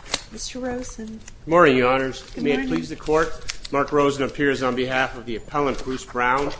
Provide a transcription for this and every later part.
Mr. Rosen. Morning, your honors. May it please the court, Mark Rosen appears on behalf of the appellant, Bruce Brown.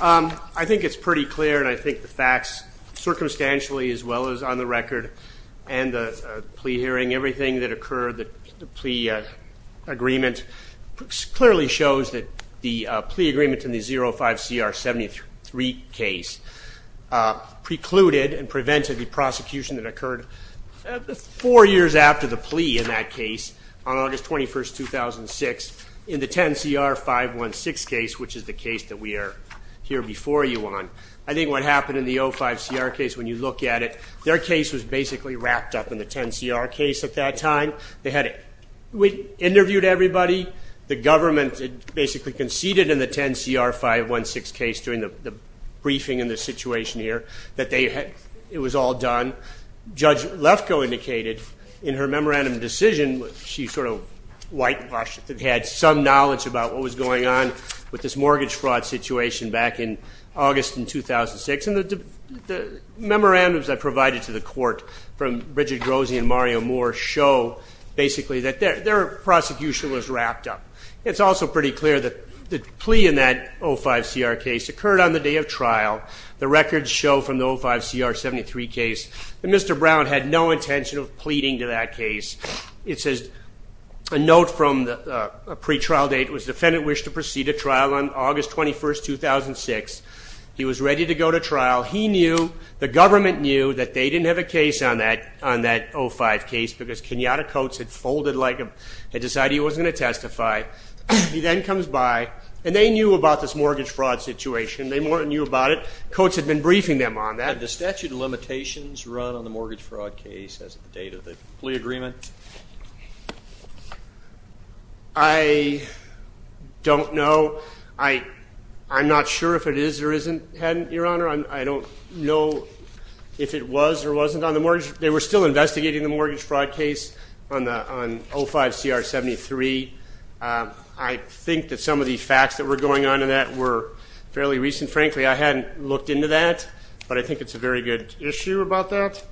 I think it's pretty clear and I think the facts, circumstantially as well as on the record and the plea hearing, everything that occurred, the plea agreement clearly shows that the plea agreement in the 05-CR-73 case precluded and prevented the prosecution that plea in that case on August 21st, 2006 in the 10-CR-516 case, which is the case that we are here before you on. I think what happened in the 05-CR case, when you look at it, their case was basically wrapped up in the 10-CR case at that time. They had interviewed everybody. The government basically conceded in the 10-CR-516 case during the briefing in this situation here that it was all done. Judge Lefkoe indicated in her memorandum decision, she sort of whitewashed it, had some knowledge about what was going on with this mortgage fraud situation back in August in 2006. And the memorandums I provided to the court from Bridget Grozy and Mario Moore show basically that their prosecution was wrapped up. It's also pretty clear that the plea in that 05-CR case occurred on the day of trial. The records show from the 05-CR-73 case that Mr. Brown had no intention of pleading to that case. It says, a note from a pretrial date, was the defendant wished to proceed to trial on August 21st, 2006. He was ready to go to trial. He knew, the government knew that they didn't have a case on that 05 case because Kenyatta Coates had decided he wasn't going to testify. He then comes by, and they knew about this mortgage fraud situation. They knew about it. Coates had been briefing them on that. Had the statute of limitations run on the mortgage fraud case as of the date of the plea agreement? I don't know. I'm not sure if it is or isn't, your honor. I don't know if it was or wasn't on the mortgage. They were still investigating the mortgage 05-CR-73. I think that some of the facts that were going on in that were fairly recent. Frankly, I hadn't looked into that, but I think it's a very good issue about that.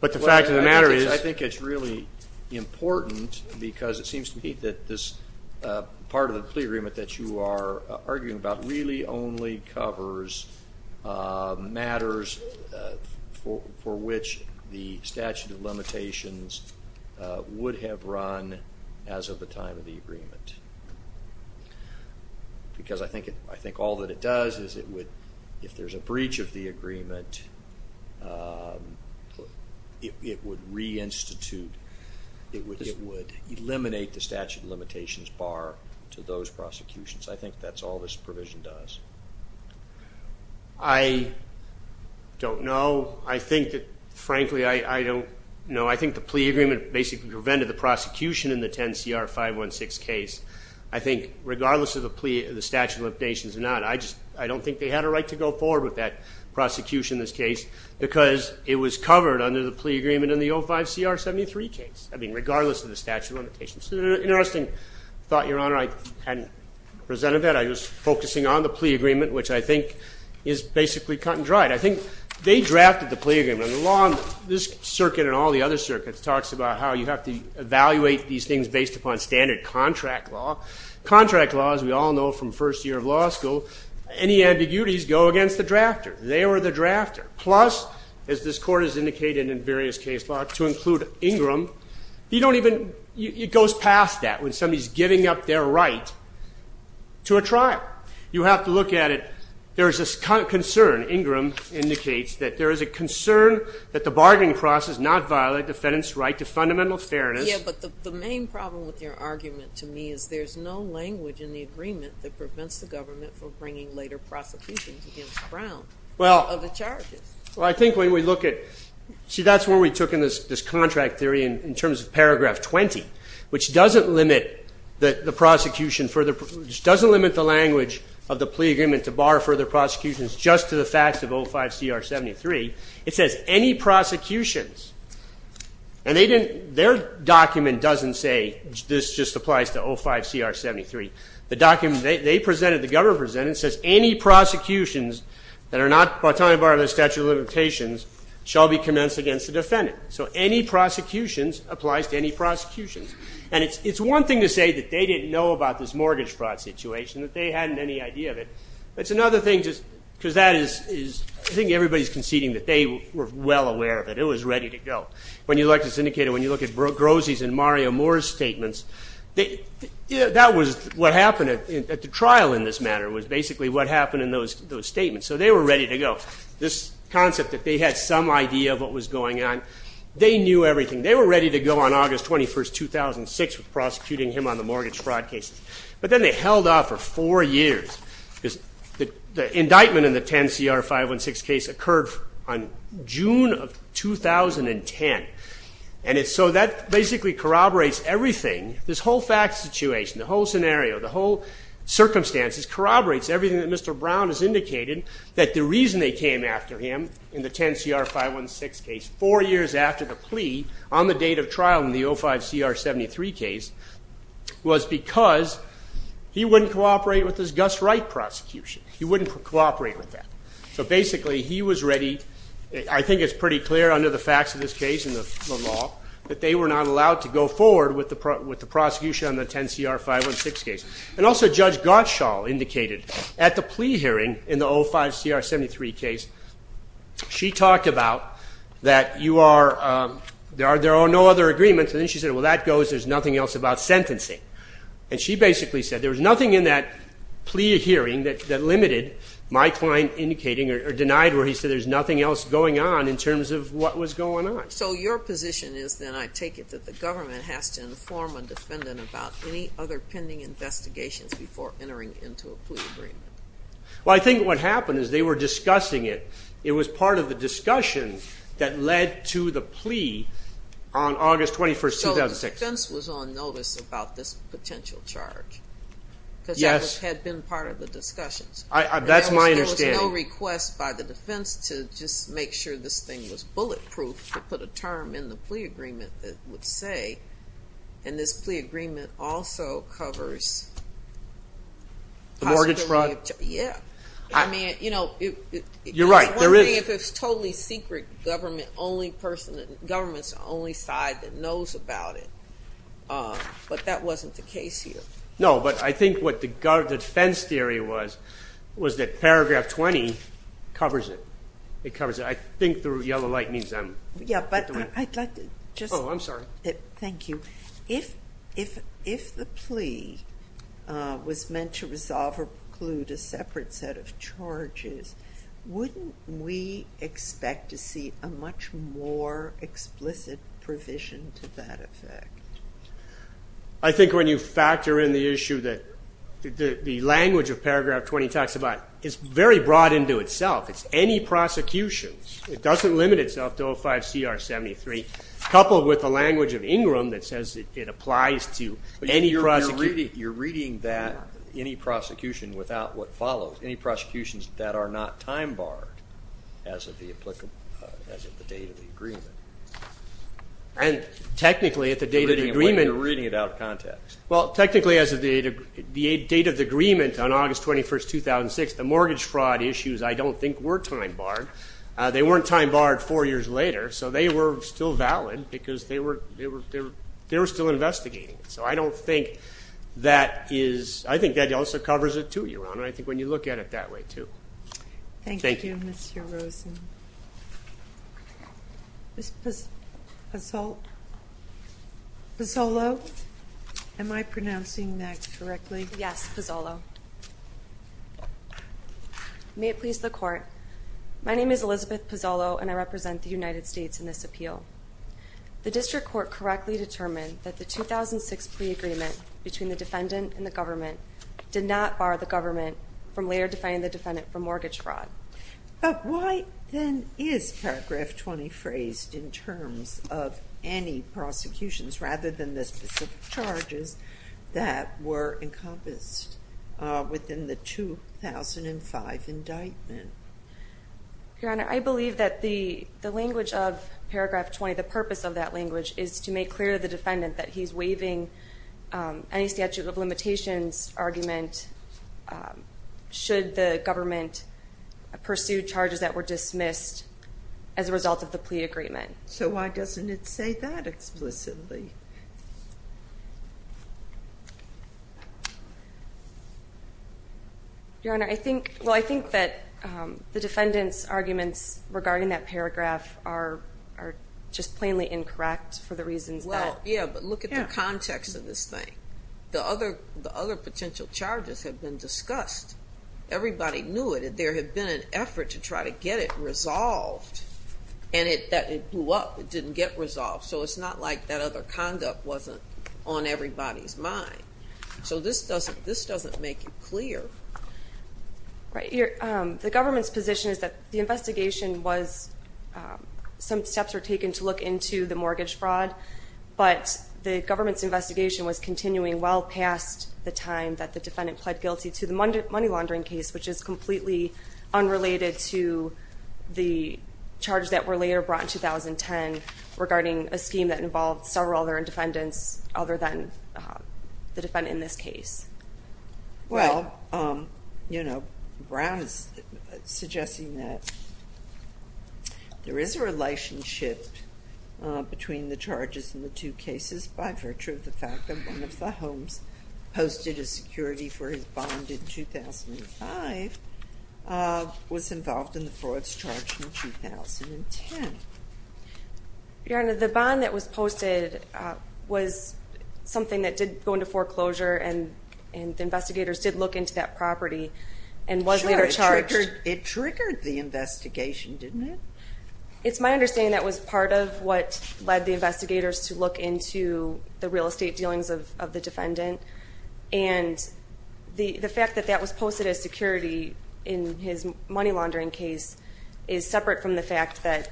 But the fact of the matter is, I think it's really important because it seems to me that this part of the plea agreement that you are arguing about really only covers matters for which the statute of limitations would have run as of the time of the agreement. Because I think all that it does is, if there is a breach of the agreement, it would re-institute, it would eliminate the statute of limitations bar to those prosecutions. I think that's all this provision does. I don't know. I think that, frankly, I don't know. I think the plea agreement basically prevented the prosecution in the 10-CR-516 case. I think, regardless of the statute of limitations or not, I don't think they had a right to go forward with that prosecution in this case because it was covered under the plea agreement in the 05-CR-73 case. I mean, regardless of the statute of limitations. It's an interesting thought, Your Honor. I hadn't presented that. I was focusing on the plea agreement, which I think is basically cut and dried. I think they drafted the plea agreement. The law on this circuit and all the other circuits talks about how you have to evaluate these things based upon standard contract law. Contract law, as we all know from first year of law school, any ambiguities go against the drafter. They were the drafter. Plus, as this Court has indicated in various case law, to include Ingram, you don't even, it goes past that when somebody's giving up their right to a trial. You have to look at it. There's a concern, Ingram indicates, that there is a concern that the bargaining process not violate defendant's right to fundamental fairness. Yeah, but the main problem with your argument to me is there's no language in the agreement that prevents the government from bringing later prosecutions against Brown of the charges. Well, I think when we look at, see that's where we took in this contract theory in terms of paragraph 20, which doesn't limit the prosecution, which doesn't limit the language of the plea agreement to bar further prosecutions just to the facts of 05-CR-73. It says, any prosecutions, and they didn't, their document doesn't say, this just applies to 05-CR-73. The document they presented, the government presented, says any prosecutions that are not, by the statute of limitations, shall be commenced against the defendant. So any prosecutions applies to any prosecutions. And it's one thing to say that they didn't know about this mortgage fraud situation, that they hadn't any idea of it. It's another thing to, because that is, I think everybody's conceding that they were well aware of it. It was ready to go. When you look at syndicated, when you look at Grossi's and Mario Moore's statements, that was what happened at the trial in this matter, was basically what happened in those statements. So they were ready to go. This concept that they had some idea of what was going on, they knew everything. They were ready to go on August 21, 2006, prosecuting him on the mortgage fraud cases. But then they held off for four years, because the indictment in the 10-CR-516 case occurred on June of 2010. And so that basically corroborates everything. This whole fact situation, the whole scenario, the whole circumstances corroborates everything that Mr. Brown has indicated, that the reason they came after him in the 10-CR-516 case, four years after the plea, on the date of trial in the 05-CR-73 case, was because he wouldn't cooperate with this Gus Wright prosecution. He wouldn't cooperate with that. So basically he was ready, I think it's pretty clear under the facts of this case and the law, that they were not allowed to go forward with the prosecution on the 10-CR-516 case. And also Judge Gottschall indicated at the plea hearing in the 05-CR-73 case, she talked about that there are no other agreements. And then she said, well, that goes, there's nothing else about sentencing. And she basically said, there was nothing in that plea hearing that limited my client indicating or denied where he said there's nothing else going on in terms of what was going on. So your position is then, I take it, that the government has to inform a defendant about any other pending investigations before entering into a plea agreement? Well, I think what happened is they were discussing it. It was part of the discussion that led to the plea on August 21, 2006. So the defense was on notice about this potential charge? Yes. Because that had been part of the discussions? That's my understanding. There was no request by the defense to just make sure this thing was bulletproof, to put a term in the plea agreement that would say, and this plea agreement also covers... The mortgage fraud? Yeah. You're right, there is. I wonder if it's totally secret, government's the only side that knows about it. But that wasn't the case here. No, but I think what the defense theory was, was that paragraph 20 covers it. It covers it. I think the yellow light means I'm... Yeah, but I'd like to just... Oh, I'm sorry. Thank you. If the plea was meant to resolve or preclude a separate set of charges, wouldn't we expect to see a much more explicit provision to that effect? I think when you factor in the issue that the language of paragraph 20 talks about, it's very broad into itself. It's any prosecution. It doesn't limit itself to 05CR73, coupled with the language of Ingram that says it applies to any prosecution. But you're reading that any prosecution without what follows, any prosecutions that are not time-barred as of the date of the agreement. And technically, at the date of the agreement... You're reading it out of context. Well, technically, as of the date of the agreement on August 21, 2006, the mortgage fraud issues I don't think were time-barred. They weren't time-barred four years later, so they were still valid because they were still investigating it. So I don't think that is... I think that also covers it, too, Your Honor. I think when you look at it that way, too. Thank you, Mr. Rosen. Ms. Pozzolo, am I pronouncing that correctly? Yes, Pozzolo. May it please the Court, my name is Elizabeth Pozzolo, and I represent the United States in this appeal. The district court correctly determined that the 2006 pre-agreement between the defendant and the government did not bar the government from later defining the defendant for mortgage fraud. But why, then, is Paragraph 20 phrased in terms of any prosecutions rather than the specific charges that were encompassed within the 2005 indictment? Your Honor, I believe that the language of Paragraph 20, the purpose of that language, is to make clear to the defendant that he's waiving any statute of limitations argument should the government pursue charges that were dismissed as a result of the plea agreement. So why doesn't it say that explicitly? Your Honor, I think that the defendant's arguments regarding that paragraph are just plainly incorrect for the reasons that... Yeah, but look at the context of this thing. The other potential charges have been discussed. Everybody knew it. There had been an effort to try to get it resolved, and it blew up. It didn't get resolved. So it's not like that other conduct wasn't on everybody's mind. So this doesn't make it clear. Right. The government's position is that the investigation was some steps were taken to look into the mortgage fraud, but the government's investigation was continuing well past the time that the defendant pled guilty to the money laundering case, which is completely unrelated to the charges that were later brought in 2010 regarding a scheme that involved several other defendants other than the defendant in this case. Well, Brown is suggesting that there is a relationship between the charges in the two cases by virtue of the fact that one of the homes posted a security for his bond in 2005 was involved in the frauds charged in 2010. Your Honor, the bond that was posted was something that did go into foreclosure, and the investigators did look into that property and was later charged. It triggered the investigation, didn't it? It's my understanding that was part of what led the investigators to look into the real estate dealings of the defendant, and the fact that that was posted as security in his money laundering case is separate from the fact that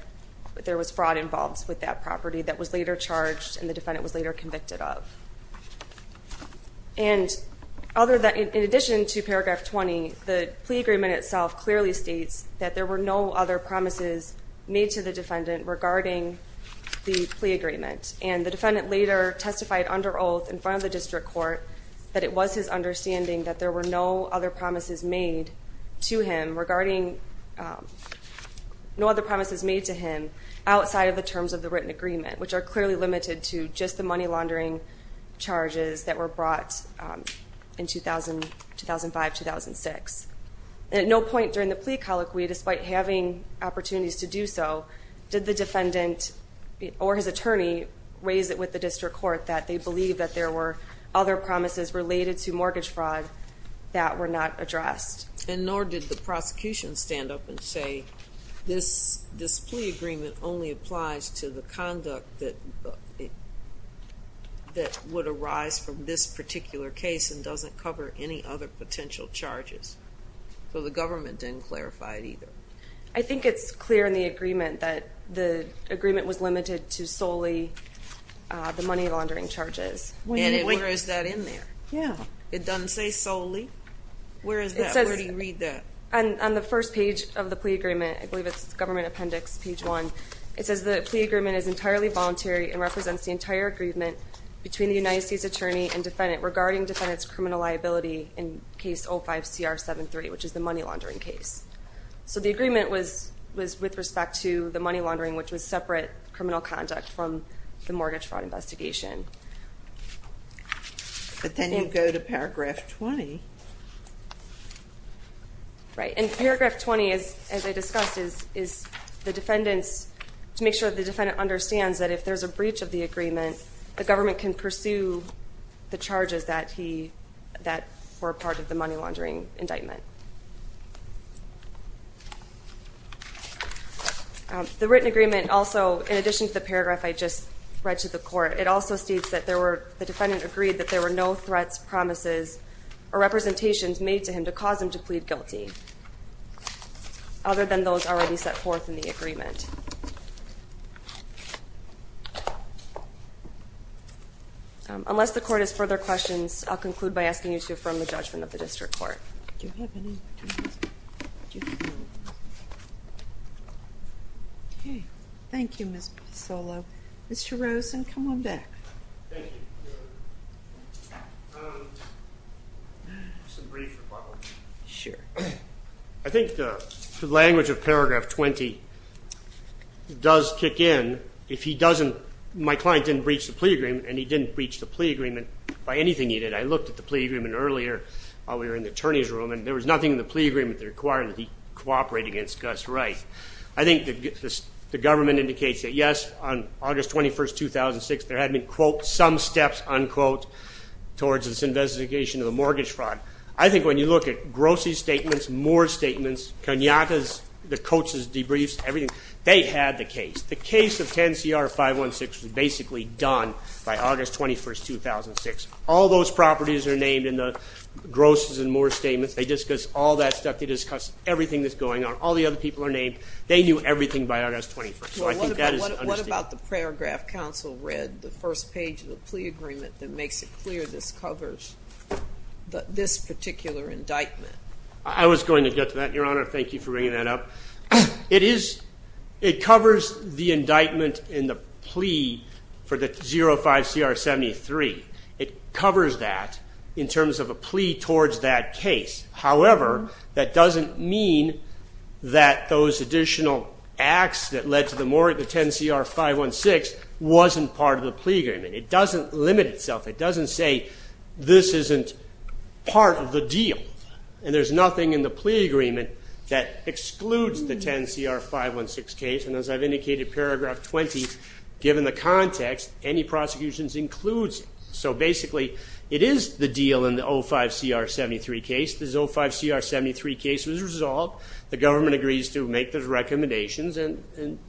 there was fraud involved with that property that was later charged and the defendant was later convicted of. And in addition to paragraph 20, the plea agreement itself clearly states that there were no other promises made to the defendant regarding the plea agreement, and the defendant later testified under oath in front of the district court that it was his understanding that there were no other promises made to him outside of the terms of the written agreement, which are clearly limited to just the money laundering charges that were brought in 2005-2006. At no point during the plea colloquy, despite having opportunities to do so, did the defendant or his attorney raise it with the district court that they believed that there were other promises related to mortgage fraud that were not addressed. And nor did the prosecution stand up and say, this plea agreement only applies to the conduct that would arise from this particular case and doesn't cover any other potential charges. So the government didn't clarify it either. I think it's clear in the agreement that the agreement was limited to solely the money laundering charges. And where is that in there? Yeah. It doesn't say solely. Where is that? Where do you read that? On the first page of the plea agreement, I believe it's government appendix page one, it says the plea agreement is entirely voluntary and represents the entire agreement between the United States attorney and defendant regarding defendant's criminal liability in case 05-CR-73, which is the money laundering case. So the agreement was with respect to the money laundering, which was separate criminal conduct from the mortgage fraud investigation. But then you go to paragraph 20. Right. And paragraph 20, as I discussed, is the defendant's, to make sure the defendant understands that if there's a breach of the agreement, the government can pursue the charges that were part of the money laundering indictment. The written agreement also, in addition to the paragraph I just read to the court, it also states that the defendant agreed that there were no threats, promises, or representations made to him to cause him to plead guilty other than those already set forth in the agreement. Unless the court has further questions, I'll conclude by asking you to affirm the judgment of the district court. Do you have any? Okay. Thank you, Ms. Pisolo. Mr. Rosen, come on back. Thank you. Just a brief rebuttal. Sure. I think the language of paragraph 20 does kick in. If he doesn't, my client didn't breach the plea agreement, and he didn't breach the plea agreement by anything he did. I looked at the plea agreement earlier while we were in the attorney's room, and there was nothing in the plea agreement that required that he cooperate against Gus Rice. I think the government indicates that, yes, on August 21, 2006, there had been, quote, some steps, unquote, towards this investigation of a mortgage fraud. I think when you look at Grossi's statements, Moore's statements, Cognata's, the coach's debriefs, everything, they had the case. The case of 10CR-516 was basically done by August 21, 2006. All those properties are named in the Grossi's and Moore's statements. They discuss all that stuff. They discuss everything that's going on. All the other people are named. They knew everything by August 21. So I think that is understated. What about the paragraph counsel read, the first page of the plea agreement, that makes it clear this covers this particular indictment? I was going to get to that, Your Honor. Thank you for bringing that up. It covers the indictment in the plea for the 05CR-73. It covers that in terms of a plea towards that case. However, that doesn't mean that those additional acts that led to the 10CR-516 wasn't part of the plea agreement. It doesn't limit itself. It doesn't say this isn't part of the deal. And there's nothing in the plea agreement that excludes the 10CR-516 case, and as I've indicated, paragraph 20, given the context, any prosecutions includes it. So basically it is the deal in the 05CR-73 case. This 05CR-73 case was resolved. The government agrees to make those recommendations, and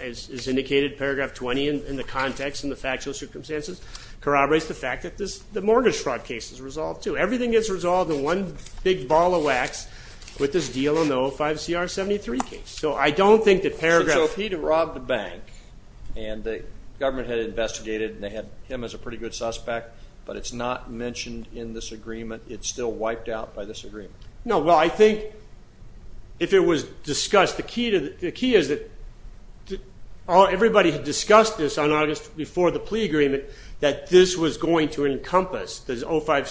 as indicated in paragraph 20 in the context and the factual circumstances, corroborates the fact that the mortgage fraud case is resolved too. Everything gets resolved in one big ball of wax with this deal on the 05CR-73 case. So I don't think that paragraph. So if he had robbed a bank and the government had investigated and they had him as a pretty good suspect, but it's not mentioned in this agreement, it's still wiped out by this agreement. No, well, I think if it was discussed, the key is that everybody had discussed this on August before the plea agreement that this was going to encompass, the 05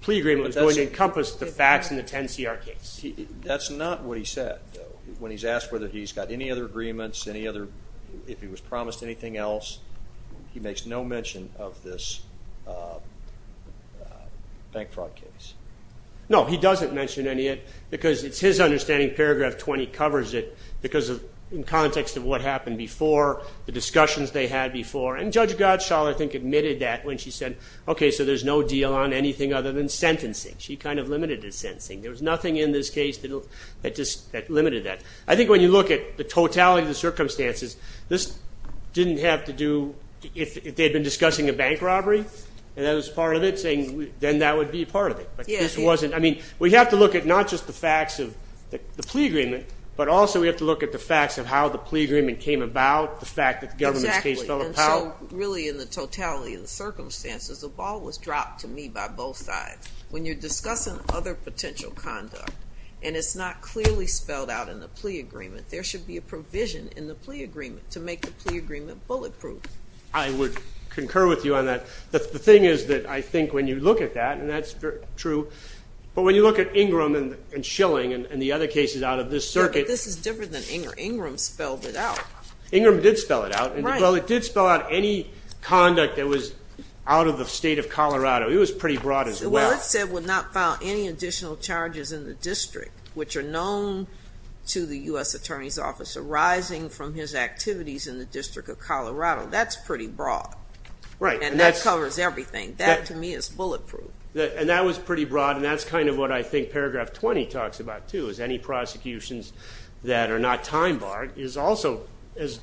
plea agreement was going to encompass the facts in the 10CR case. That's not what he said, though. When he's asked whether he's got any other agreements, if he was promised anything else, he makes no mention of this bank fraud case. No, he doesn't mention any of it because it's his understanding paragraph 20 covers it because in context of what happened before, the discussions they had before, and Judge Gottschall I think admitted that when she said, okay, so there's no deal on anything other than sentencing. She kind of limited it to sentencing. There was nothing in this case that just limited that. I think when you look at the totality of the circumstances, this didn't have to do if they had been discussing a bank robbery and that was part of it, then that would be part of it. We have to look at not just the facts of the plea agreement, but also we have to look at the facts of how the plea agreement came about, the fact that the government's case fell apart. Exactly, and so really in the totality of the circumstances, the ball was dropped to me by both sides. When you're discussing other potential conduct and it's not clearly spelled out in the plea agreement, there should be a provision in the plea agreement to make the plea agreement bulletproof. I would concur with you on that. The thing is that I think when you look at that, and that's true, but when you look at Ingram and Schilling and the other cases out of this circuit. This is different than Ingram. Ingram spelled it out. Ingram did spell it out. Well, it did spell out any conduct that was out of the state of Colorado. Well, it said we'll not file any additional charges in the district which are known to the U.S. Attorney's Office arising from his activities in the District of Colorado. That's pretty broad, and that covers everything. That, to me, is bulletproof. And that was pretty broad, and that's kind of what I think paragraph 20 talks about, too, is any prosecutions that are not time-barred is also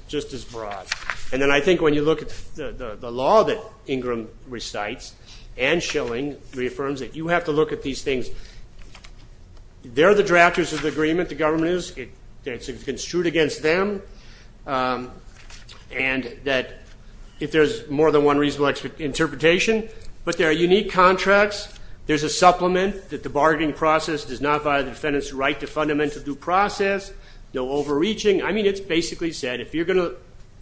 just as broad. And then I think when you look at the law that Ingram recites and Schilling reaffirms it, you have to look at these things. They're the drafters of the agreement. The government is. It's construed against them. And that if there's more than one reasonable interpretation, but there are unique contracts. There's a supplement that the bargaining process does not violate the defendant's right to fundamental due process, no overreaching. I mean, it's basically said if you're going to,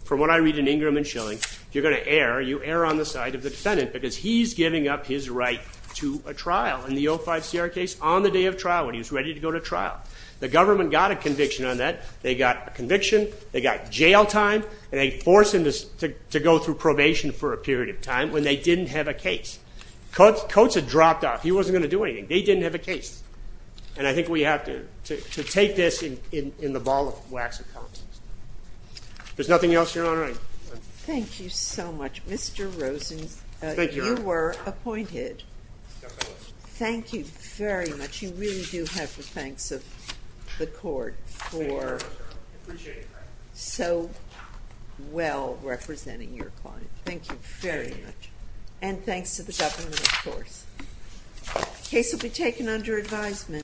from what I read in Ingram and Schilling, if you're going to err, you err on the side of the defendant because he's giving up his right to a trial. In the 05 CR case, on the day of trial, when he was ready to go to trial, the government got a conviction on that. They got a conviction. They got jail time. And they forced him to go through probation for a period of time when they didn't have a case. Coates had dropped off. He wasn't going to do anything. They didn't have a case. And I think we have to take this in the ball of wax and combs. If there's nothing else, Your Honor, I'm done. Thank you so much. Mr. Rosen, you were appointed. Thank you very much. You really do have the thanks of the court for so well representing your client. Thank you very much. And thanks to the government, of course. The case will be taken under advisement.